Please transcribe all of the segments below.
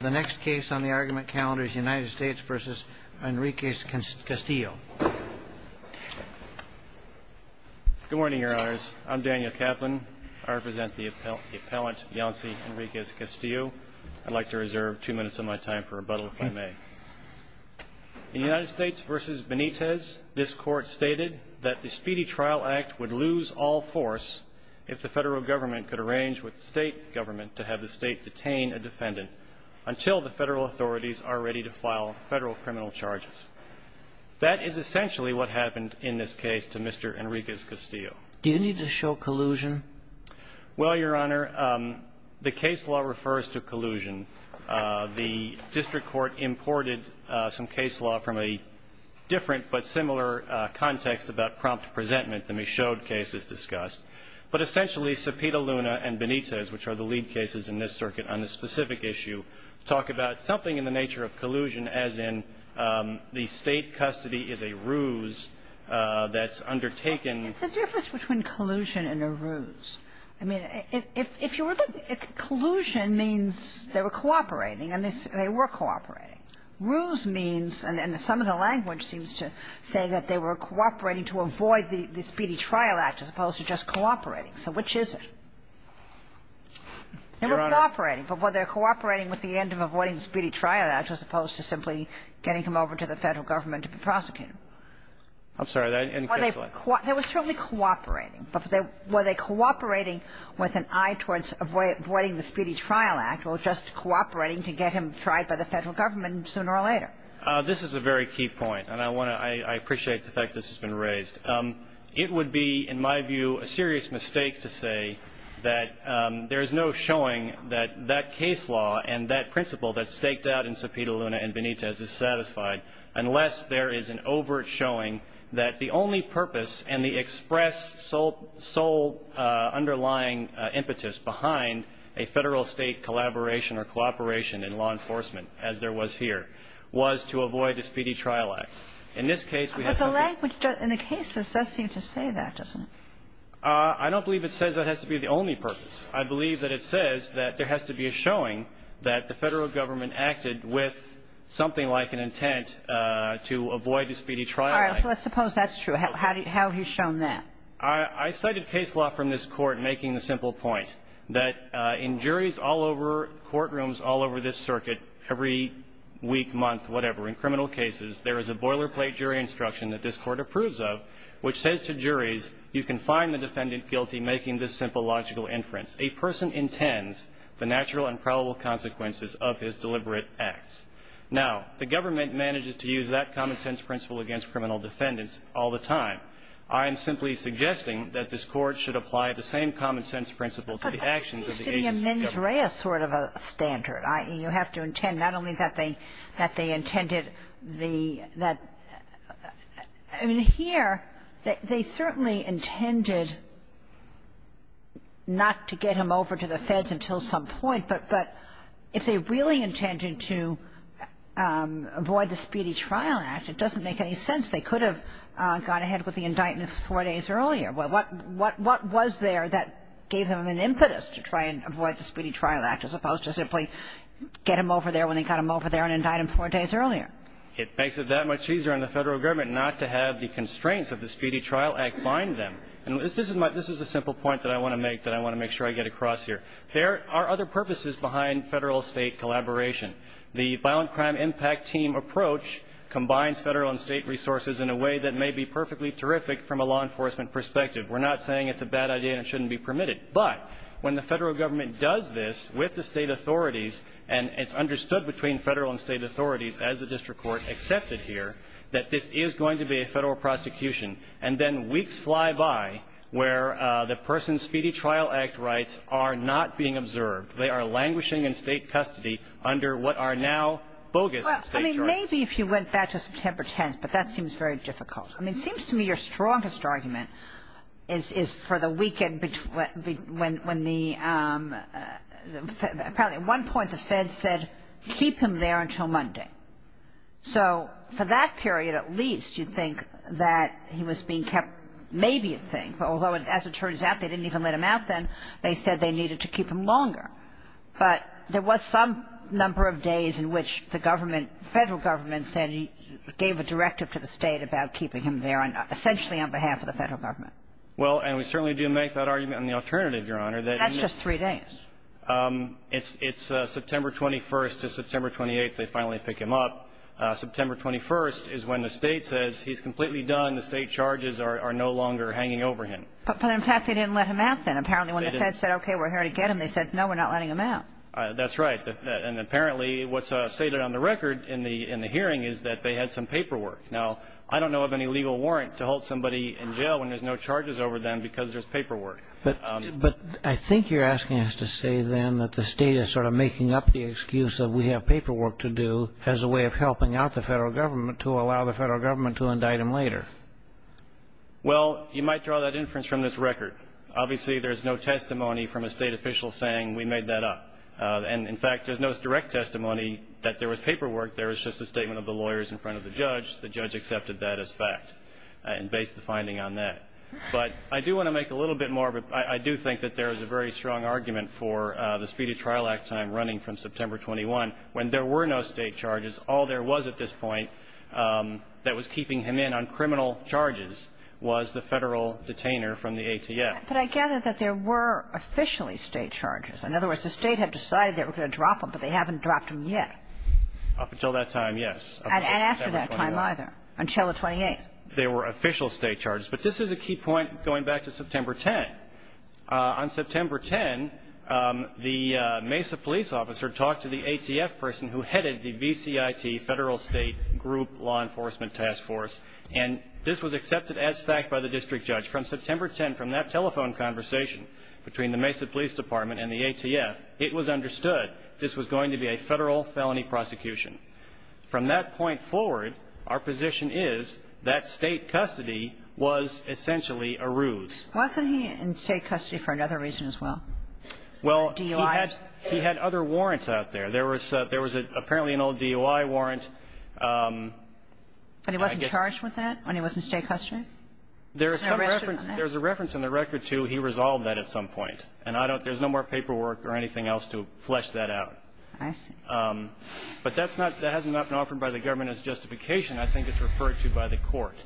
The next case on the argument calendar is United States v. Henriquez-Castillo Good morning, your honors. I'm Daniel Kaplan. I represent the appellant Yonsi Henriquez-Castillo. I'd like to reserve two minutes of my time for rebuttal, if I may. In United States v. Benitez, this court stated that the Speedy Trial Act would lose all force if the federal government could arrange with the state government to have the state detain a defendant until the federal authorities are ready to file federal criminal charges. That is essentially what happened in this case to Mr. Henriquez-Castillo. Do you need to show collusion? Well, your honor, the case law refers to collusion. The district court imported some case law from a different but similar context about prompt presentment, the Michaud case is discussed. But essentially, Cepeda, Luna, and Benitez, which are the lead cases in this circuit on this specific issue, talk about something in the nature of collusion as in the state custody is a ruse that's undertaken It's a difference between collusion and a ruse. I mean, if you were to look at collusion means they were cooperating, and they were cooperating. Ruse means, and some of the language seems to say that they were cooperating to avoid the Speedy Trial Act as opposed to just cooperating. So which is it? They were cooperating. But were they cooperating with the end of avoiding the Speedy Trial Act as opposed to simply getting him over to the federal government to be prosecuted? I'm sorry. They were certainly cooperating. But were they cooperating with an eye towards avoiding the Speedy Trial Act or just This is a very key point, and I appreciate the fact this has been raised. It would be, in my view, a serious mistake to say that there is no showing that that case law and that principle that's staked out in Cepeda, Luna, and Benitez is satisfied unless there is an overt showing that the only purpose and the express sole underlying impetus behind a federal-state collaboration or cooperation in law enforcement as there was here was to avoid the Speedy Trial Act. In this case, we have something. But the language in the cases does seem to say that, doesn't it? I don't believe it says that has to be the only purpose. I believe that it says that there has to be a showing that the federal government acted with something like an intent to avoid the Speedy Trial Act. All right. So let's suppose that's true. How have you shown that? I cited case law from this Court making the simple point that in juries all over the world, courtrooms all over this circuit, every week, month, whatever, in criminal cases, there is a boilerplate jury instruction that this Court approves of which says to juries, you can find the defendant guilty making this simple logical inference. A person intends the natural and probable consequences of his deliberate acts. Now, the government manages to use that common-sense principle against criminal defendants all the time. I am simply suggesting that this Court should apply the same common-sense principle to the actions of the agency government. But it seems to be a mens rea sort of a standard. You have to intend not only that they intended the – that – I mean, here, they certainly intended not to get him over to the Feds until some point, but if they really intended to avoid the Speedy Trial Act, it doesn't make any sense. They could have gone ahead with the indictment four days earlier. What was there that gave them an impetus to try and avoid the Speedy Trial Act as opposed to simply get him over there when they got him over there and indict him four days earlier? It makes it that much easier on the Federal Government not to have the constraints of the Speedy Trial Act bind them. And this is a simple point that I want to make, that I want to make sure I get across here. There are other purposes behind Federal-State collaboration. The violent crime impact team approach combines Federal and State resources in a way that may be perfectly terrific from a law enforcement perspective. We're not saying it's a bad idea and it shouldn't be permitted. But when the Federal Government does this with the State authorities, and it's understood between Federal and State authorities, as the district court accepted here, that this is going to be a Federal prosecution, and then weeks fly by where the person's Speedy Trial Act rights are not being observed. They are languishing in State custody under what are now bogus State charges. Well, I mean, maybe if you went back to September 10th, but that seems very difficult. I mean, it seems to me your strongest argument is for the weekend when the Fed – apparently at one point the Fed said keep him there until Monday. So for that period at least, you'd think that he was being kept maybe a thing. Although, as it turns out, they didn't even let him out then. They said they needed to keep him longer. But there was some number of days in which the government, Federal Government said it gave a directive to the State about keeping him there, essentially on behalf of the Federal Government. Well, and we certainly do make that argument on the alternative, Your Honor. That's just three days. It's September 21st to September 28th they finally pick him up. September 21st is when the State says he's completely done. The State charges are no longer hanging over him. But, in fact, they didn't let him out then. Apparently when the Fed said, okay, we're here to get him, they said, no, we're not letting him out. That's right. And apparently what's stated on the record in the hearing is that they had some paperwork. Now, I don't know of any legal warrant to hold somebody in jail when there's no charges over them because there's paperwork. But I think you're asking us to say then that the State is sort of making up the excuse that we have paperwork to do as a way of helping out the Federal Government to allow the Federal Government to indict him later. Well, you might draw that inference from this record. Obviously there's no testimony from a State official saying we made that up. And, in fact, there's no direct testimony that there was paperwork. There was just a statement of the lawyers in front of the judge. The judge accepted that as fact and based the finding on that. But I do want to make a little bit more. I do think that there is a very strong argument for the Speedy Trial Act time running from September 21 when there were no State charges. All there was at this point that was keeping him in on criminal charges was the Federal detainer from the ATF. But I gather that there were officially State charges. In other words, the State had decided they were going to drop him, but they haven't dropped him yet. Up until that time, yes. And after that time either, until the 28th. There were official State charges. But this is a key point going back to September 10. On September 10, the Mesa police officer talked to the ATF person who headed the VCIT Federal State Group Law Enforcement Task Force. And this was accepted as fact by the district judge. From September 10, from that telephone conversation between the Mesa Police Department and the ATF, it was understood this was going to be a Federal felony prosecution. From that point forward, our position is that State custody was essentially a ruse. Wasn't he in State custody for another reason as well? Well, he had other warrants out there. There was apparently an old DUI warrant. And he wasn't charged with that when he was in State custody? There's a reference in the record to he resolved that at some point. And there's no more paperwork or anything else to flesh that out. I see. But that hasn't been offered by the government as justification. I think it's referred to by the court.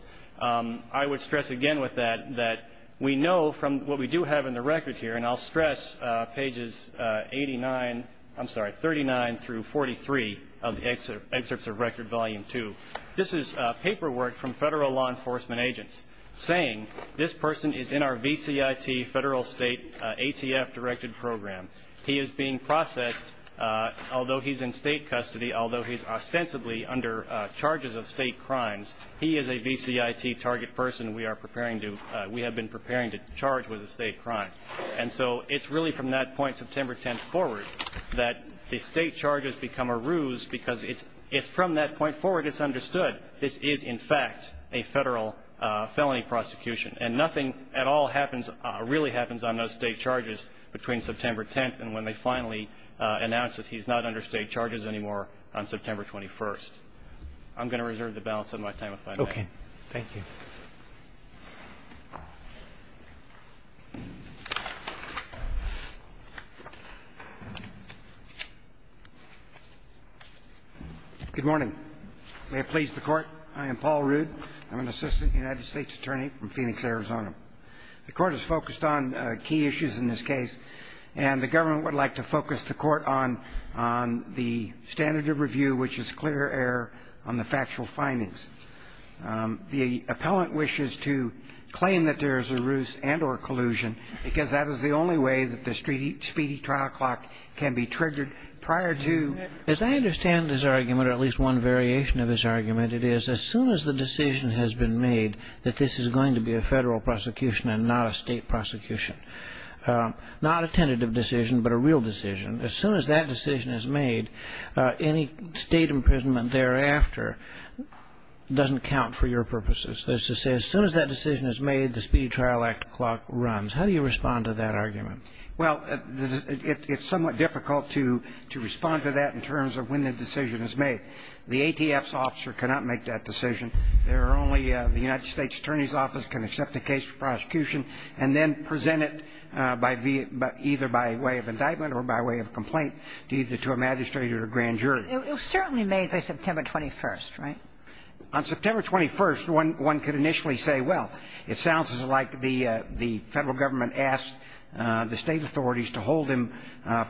I would stress again with that that we know from what we do have in the record here, and I'll stress pages 89, I'm sorry, 39 through 43 of the excerpts of Record Volume 2, this is paperwork from Federal law enforcement agents saying this person is in our VCIT Federal State ATF-directed program. He is being processed. Although he's in State custody, although he's ostensibly under charges of State crimes, he is a VCIT target person we have been preparing to charge with a State crime. And so it's really from that point September 10th forward that the State charges become a ruse because it's from that point forward it's understood this is, in fact, a Federal felony prosecution. And nothing at all really happens on those State charges between September 10th and when they finally announce that he's not under State charges anymore on September 21st. I'm going to reserve the balance of my time if I may. Roberts. Thank you. Good morning. May it please the Court. I am Paul Rood. I'm an assistant United States attorney from Phoenix, Arizona. The Court is focused on key issues in this case, and the government would like to focus the Court on the standard of review, which is clear error on the factual findings. The appellant wishes to claim that there is a ruse and or collusion because that is the only way that the speedy trial clock can be triggered prior to. As I understand this argument, or at least one variation of this argument, it is as soon as the decision has been made that this is going to be a Federal prosecution and not a State prosecution. Not a tentative decision, but a real decision. As soon as that decision is made, any State imprisonment thereafter doesn't count for your purposes. That is to say, as soon as that decision is made, the speedy trial act clock runs. How do you respond to that argument? Well, it's somewhat difficult to respond to that in terms of when the decision is made. The ATF's officer cannot make that decision. There are only the United States Attorney's Office can accept the case for prosecution and then present it either by way of indictment or by way of complaint either to a magistrate or a grand jury. It was certainly made by September 21st, right? On September 21st, one could initially say, well, it sounds like the Federal government asked the State authorities to hold him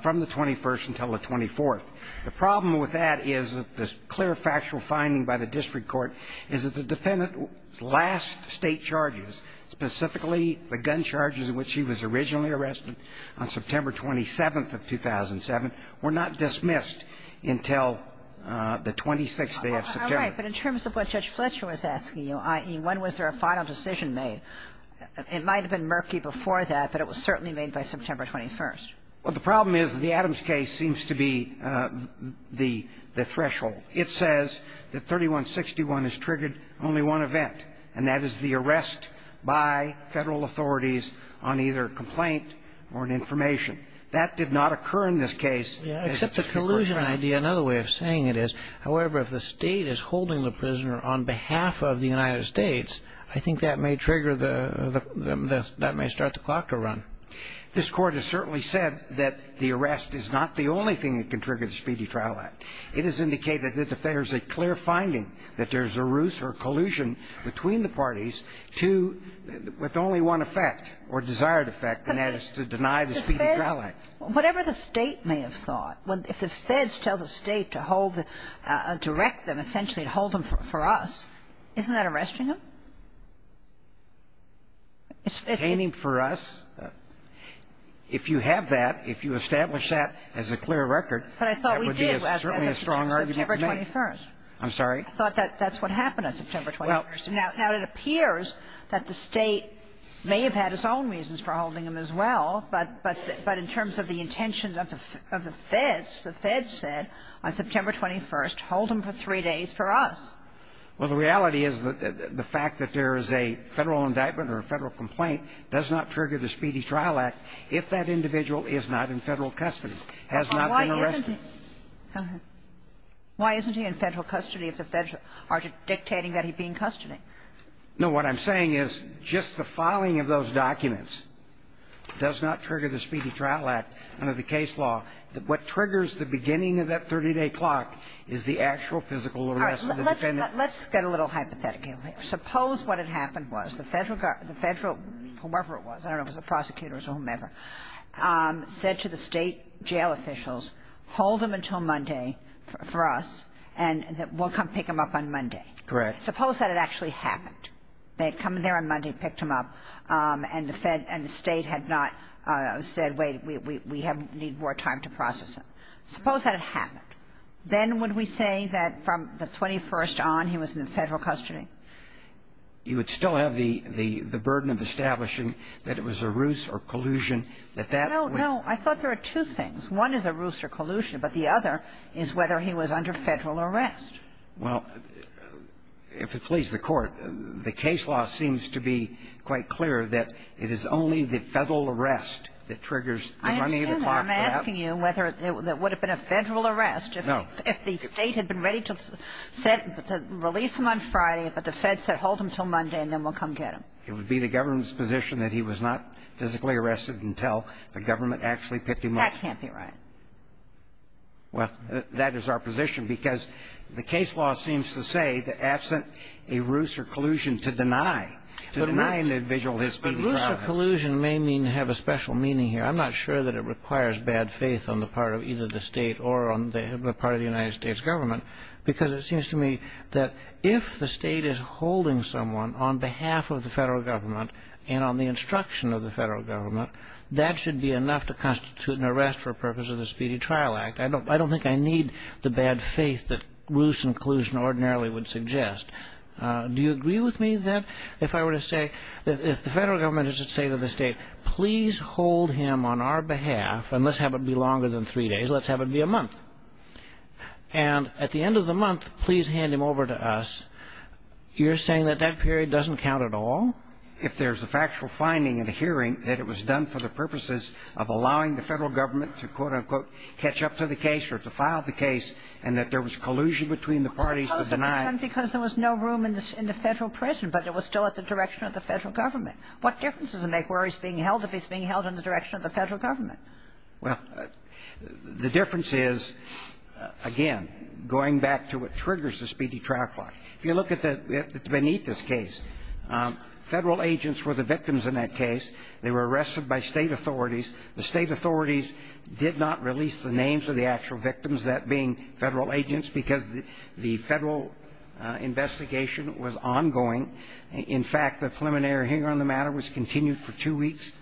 from the 21st until the 24th. The problem with that is that the clear factual finding by the district court is that the defendant's last State charges, specifically the gun charges in which he was originally arrested on September 27th of 2007, were not dismissed until the 26th day of September. All right. But in terms of what Judge Fletcher was asking you, i.e., when was there a final decision made, it might have been murky before that, but it was certainly made by September Well, the problem is the Adams case seems to be the threshold. It says that 3161 has triggered only one event, and that is the arrest by Federal authorities on either complaint or an information. That did not occur in this case. Except the collusion idea, another way of saying it is, however, if the State is holding the prisoner on behalf of the United States, I think that may trigger the – that may start the clock to run. This Court has certainly said that the arrest is not the only thing that can trigger the Speedy Trial Act. It has indicated that if there's a clear finding that there's a ruse or collusion between the parties to – with only one effect or desired effect, and that is to deny the Speedy Trial Act. Whatever the State may have thought, if the Feds tell the State to hold the – to wreck them, essentially to hold them for us, isn't that arresting them? It's obtaining for us. If you have that, if you establish that as a clear record, that would be a strong But I thought we did as of September 21st. I'm sorry? I thought that's what happened on September 21st. Now, it appears that the State may have had its own reasons for holding them as well, but in terms of the intentions of the Feds, the Feds said on September 21st, hold them for three days for us. Well, the reality is that the fact that there is a Federal indictment or a Federal complaint does not trigger the Speedy Trial Act if that individual is not in Federal custody, has not been arrested. Why isn't he in Federal custody if the Feds are dictating that he be in custody? No. What I'm saying is just the filing of those documents does not trigger the Speedy Trial Act under the case law. What triggers the beginning of that 30-day clock is the actual physical arrest of the defendant. All right. Let's get a little hypothetical here. Suppose what had happened was the Federal, whoever it was, I don't know if it was the prosecutors or whomever, said to the State jail officials, hold them until Monday for us, and we'll come pick them up on Monday. Correct. Suppose that had actually happened. We need more time to process it. Suppose that had happened. Then would we say that from the 21st on he was in Federal custody? You would still have the burden of establishing that it was a ruse or collusion, that that would be. No, no. I thought there were two things. One is a ruse or collusion, but the other is whether he was under Federal arrest. Well, if it pleases the Court, the case law seems to be quite clear that it is only the Federal arrest that triggers the running of the clock. I understand that. I'm asking you whether it would have been a Federal arrest. No. If the State had been ready to release him on Friday, but the Fed said, hold him until Monday, and then we'll come get him. It would be the government's position that he was not physically arrested until the government actually picked him up. That can't be right. Well, that is our position, because the case law seems to say that absent a ruse or collusion to deny, to deny an individual his speedy trial. Ruse or collusion may mean to have a special meaning here. I'm not sure that it requires bad faith on the part of either the State or on the part of the United States government, because it seems to me that if the State is holding someone on behalf of the Federal government and on the instruction of the Federal government, that should be enough to constitute an arrest for the purpose of the Speedy Trial Act. I don't think I need the bad faith that ruse and collusion ordinarily would suggest. Do you agree with me that if I were to say that if the Federal government is to say to the State, please hold him on our behalf, and let's have it be longer than three days, let's have it be a month, and at the end of the month, please hand him over to us, you're saying that that period doesn't count at all? If there's a factual finding in a hearing that it was done for the purposes of allowing the Federal government to, quote, unquote, catch up to the case or to file the case, and that there was collusion between the parties to deny the case, then what is the difference? If it's a case that's been done because there was no room in the Federal prison, but it was still at the direction of the Federal government, what difference does it make where he's being held if he's being held in the direction of the Federal government? Well, the difference is, again, going back to what triggers the Speedy Trial Clause. If you look at the Benitez case, Federal agents were the victims in that case. They were arrested by State authorities. The State authorities did not release the names of the actual victims, that being Federal agents, because the Federal investigation was ongoing. In fact, the preliminary hearing on the matter was continued for two weeks,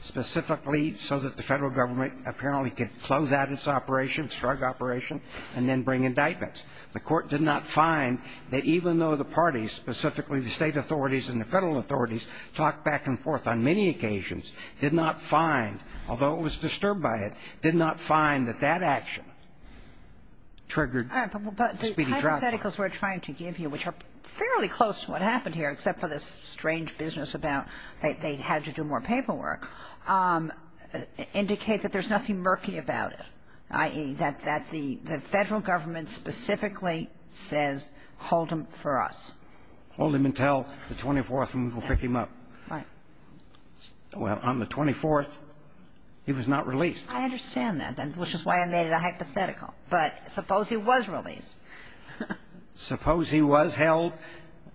specifically so that the Federal government apparently could close out its operation, its drug operation, and then bring indictments. The Court did not find that even though the parties, specifically the State authorities and the Federal authorities, talked back and forth on many occasions, did not find although it was disturbed by it, did not find that that action triggered the Speedy Trial Clause. But the hypotheticals we're trying to give you, which are fairly close to what happened here, except for this strange business about they had to do more paperwork, indicate that there's nothing murky about it, i.e., that the Federal government specifically says, hold him for us. Hold him until the 24th, and we'll pick him up. Right. Well, on the 24th, he was not released. I understand that, which is why I made it a hypothetical. But suppose he was released. Suppose he was held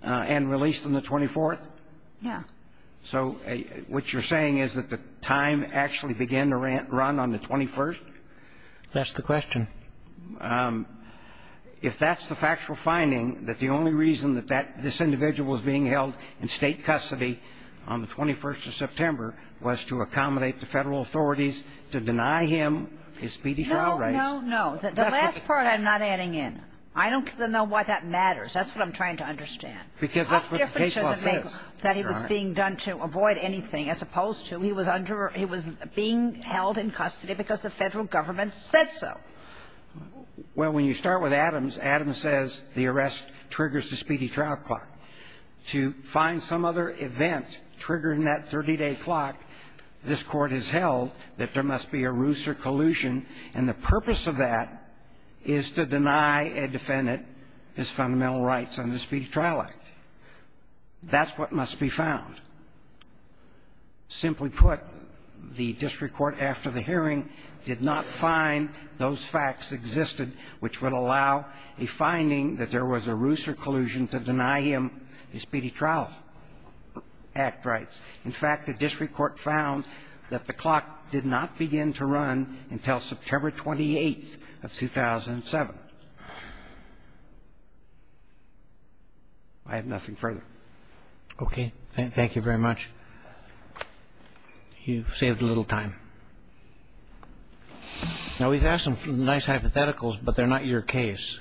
and released on the 24th? Yeah. So what you're saying is that the time actually began to run on the 21st? That's the question. If that's the factual finding, that the only reason that that this individual was being held in State custody on the 21st of September was to accommodate the Federal authorities to deny him his Speedy Trial rights? No, no, no. The last part I'm not adding in. I don't know why that matters. That's what I'm trying to understand. Because that's what the case law says. How different should it make that he was being done to avoid anything as opposed to he was under or he was being held in custody because the Federal government said so? Well, when you start with Adams, Adams says the arrest triggers the Speedy Trial clock. To find some other event triggering that 30-day clock, this Court has held that there must be a ruse or collusion, and the purpose of that is to deny a defendant his fundamental rights under the Speedy Trial Act. That's what must be found. Simply put, the district court after the hearing did not find those facts existed which would allow a finding that there was a ruse or collusion to deny him his Speedy Trial Act rights. In fact, the district court found that the clock did not begin to run until September 28th of 2007. I have nothing further. Okay. Thank you very much. You've saved a little time. Now, we've had some nice hypotheticals, but they're not your case.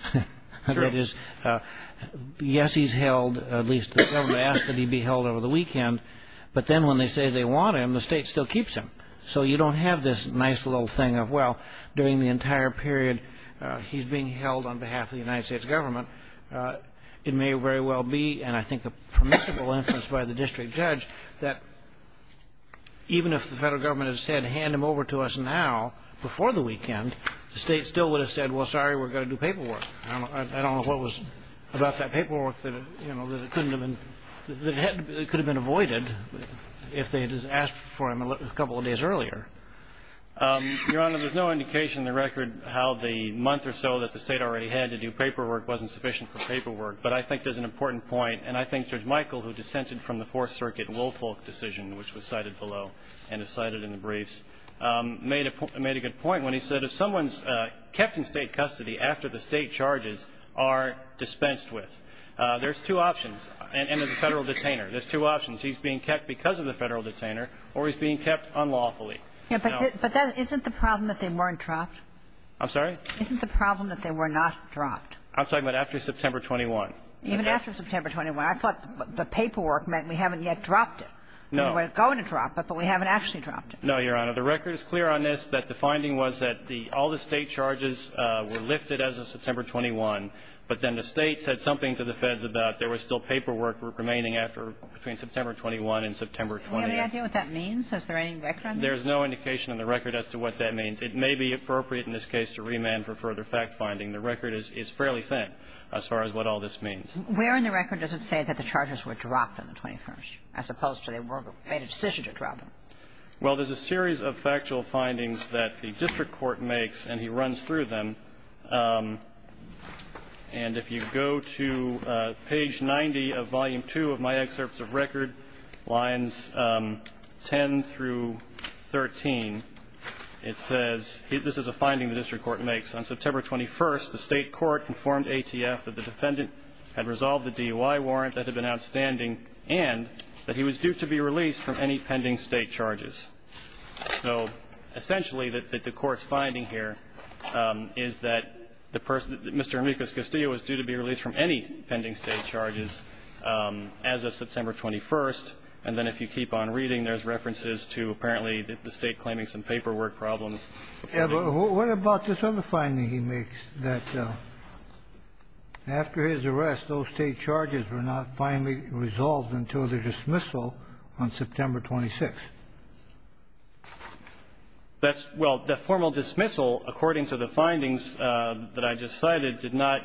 That is, yes, he's held, at least the government asked that he be held over the weekend. But then when they say they want him, the state still keeps him. So you don't have this nice little thing of, well, during the entire period he's being held on behalf of the United States government. It may very well be, and I think a permissible inference by the district judge, that even if the Federal Government had said, hand him over to us now, before the weekend, the state still would have said, well, sorry, we're going to do paperwork. I don't know what was about that paperwork that, you know, that it couldn't have been, that it could have been avoided if they had asked for him a couple of days earlier. Your Honor, there's no indication in the record how the month or so that the state already had to do paperwork wasn't sufficient for paperwork. But I think there's an important point, and I think Judge Michael, who dissented from the Fourth Circuit Woolfolk decision, which was cited below and is cited in the briefs, made a good point when he said if someone's kept in state custody after the state charges are dispensed with, there's two options. And as a Federal detainer, there's two options. He's being kept because of the Federal detainer, or he's being kept unlawfully. No. But isn't the problem that they weren't trapped? I'm sorry? Isn't the problem that they were not trapped? I'm talking about after September 21. Even after September 21. I thought the paperwork meant we haven't yet dropped it. No. We were going to drop it, but we haven't actually dropped it. No, Your Honor. The record is clear on this that the finding was that the all the state charges were lifted as of September 21, but then the State said something to the Feds about there was still paperwork remaining after, between September 21 and September 20. Do you have any idea what that means? Is there any record on that? There's no indication in the record as to what that means. It may be appropriate in this case to remand for further fact-finding. The record is fairly thin as far as what all this means. Where in the record does it say that the charges were dropped on the 21st, as opposed to they were made a decision to drop them? Well, there's a series of factual findings that the district court makes, and he runs through them, and if you go to page 90 of Volume II of my excerpts of record, lines 10 through 13, it says, this is a finding the district court makes. On September 21, the state court informed ATF that the defendant had resolved the DUI warrant that had been outstanding and that he was due to be released from any pending state charges. So essentially, the court's finding here is that Mr. Amicus Castillo was due to be And then if you keep on reading, there's references to apparently the state claiming some paperwork problems. What about this other finding he makes, that after his arrest, those state charges were not finally resolved until the dismissal on September 26? Well, the formal dismissal, according to the findings that I just cited, did not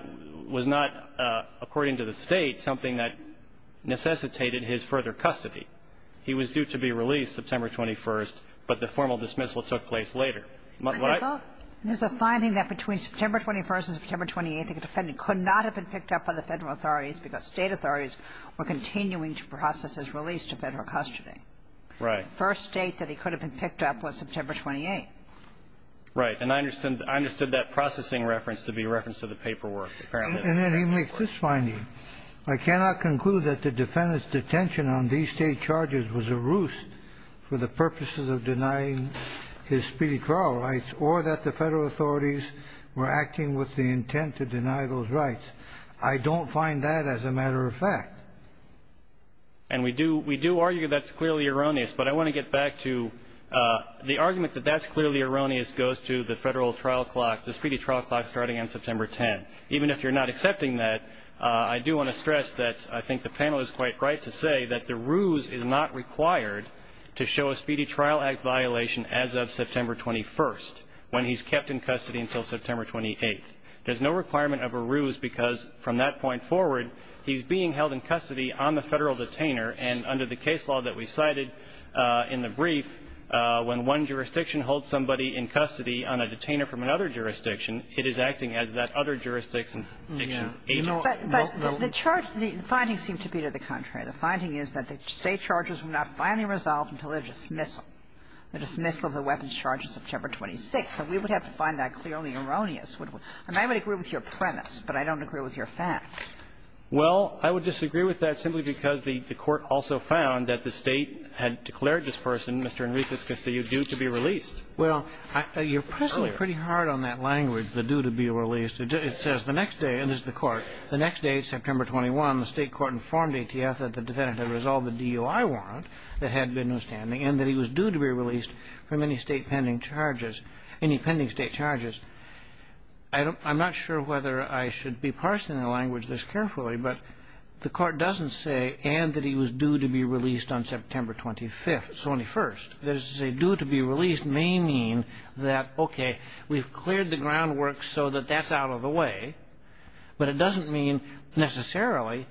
was not, according to the state, something that necessitated his further custody. He was due to be released September 21, but the formal dismissal took place later. But I thought there's a finding that between September 21 and September 28, the defendant could not have been picked up by the federal authorities because state authorities were continuing to process his release to federal custody. Right. The first state that he could have been picked up was September 28. Right. And I understood that processing reference to be a reference to the paperwork, apparently. And then he makes this finding. I cannot conclude that the defendant's detention on these state charges was a ruse for the purposes of denying his speedy trial rights or that the federal authorities were acting with the intent to deny those rights. I don't find that as a matter of fact. And we do argue that's clearly erroneous, but I want to get back to the argument that that's clearly erroneous goes to the federal trial clock, the speedy trial clock starting on September 10. Even if you're not accepting that, I do want to stress that I think the panel is quite right to say that the ruse is not required to show a Speedy Trial Act violation as of September 21 when he's kept in custody until September 28. There's no requirement of a ruse because from that point forward, he's being held in custody on the federal detainer. And under the case law that we cited in the brief, when one jurisdiction holds somebody in custody on a detainer from another jurisdiction, it is acting as that other jurisdiction's agent. Kagan. But the charge of the findings seem to be to the contrary. The finding is that the state charges were not finally resolved until their dismissal, the dismissal of the weapons charge on September 26. And we would have to find that clearly erroneous. And I would agree with your premise, but I don't agree with your fact. Well, I would disagree with that simply because the Court also found that the State had declared this person, Mr. Enriquez Castillo, due to be released. Well, you're pressing pretty hard on that language, the due to be released. It says the next day, and this is the Court, the next day, September 21, the State Court informed ATF that the defendant had resolved the DUI warrant that had been outstanding and that he was due to be released from any State pending charges any pending State charges. I'm not sure whether I should be parsing the language this carefully, but the Court doesn't say, and that he was due to be released on September 25th, 21st. That is to say, due to be released may mean that, okay, we've cleared the groundwork so that that's out of the way, but it doesn't mean necessarily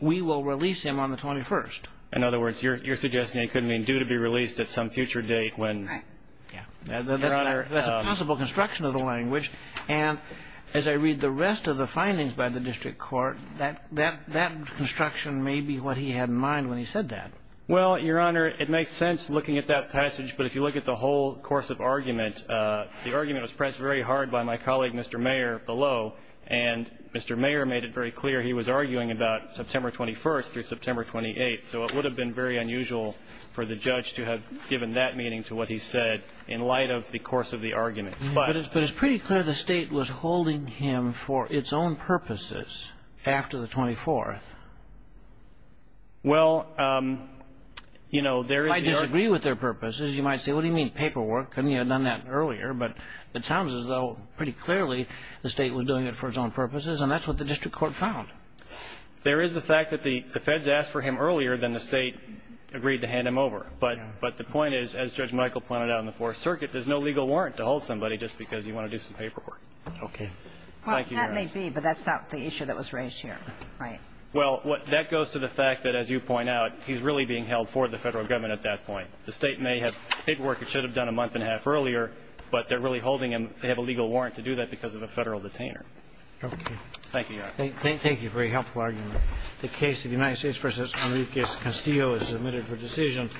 we will release him on the 21st. In other words, you're suggesting it could mean due to be released at some future date when, yeah. That's a possible construction of the language. And as I read the rest of the findings by the district court, that construction may be what he had in mind when he said that. Well, Your Honor, it makes sense looking at that passage. But if you look at the whole course of argument, the argument was pressed very hard by my colleague, Mr. Mayer, below. And Mr. Mayer made it very clear he was arguing about September 21st through September 28th. So it would have been very unusual for the judge to have given that meaning to what he said in light of the course of the argument. But it's pretty clear the State was holding him for its own purposes after the 24th. Well, you know, there is the argument. You might disagree with their purposes. You might say, what do you mean, paperwork? Couldn't he have done that earlier? But it sounds as though pretty clearly the State was doing it for its own purposes, and that's what the district court found. There is the fact that the feds asked for him earlier than the State agreed to hand him over. But the point is, as Judge Michael pointed out in the Fourth Circuit, there's no legal warrant to hold somebody just because you want to do some paperwork. Thank you, Your Honor. Well, that may be, but that's not the issue that was raised here, right? Well, that goes to the fact that, as you point out, he's really being held for the Federal Government at that point. The State may have paperwork it should have done a month and a half earlier, but they're really holding him. They have a legal warrant to do that because of a Federal detainer. Okay. Thank you, Your Honor. Thank you for a helpful argument. The case of United States v. Enrique Castillo is submitted for decision.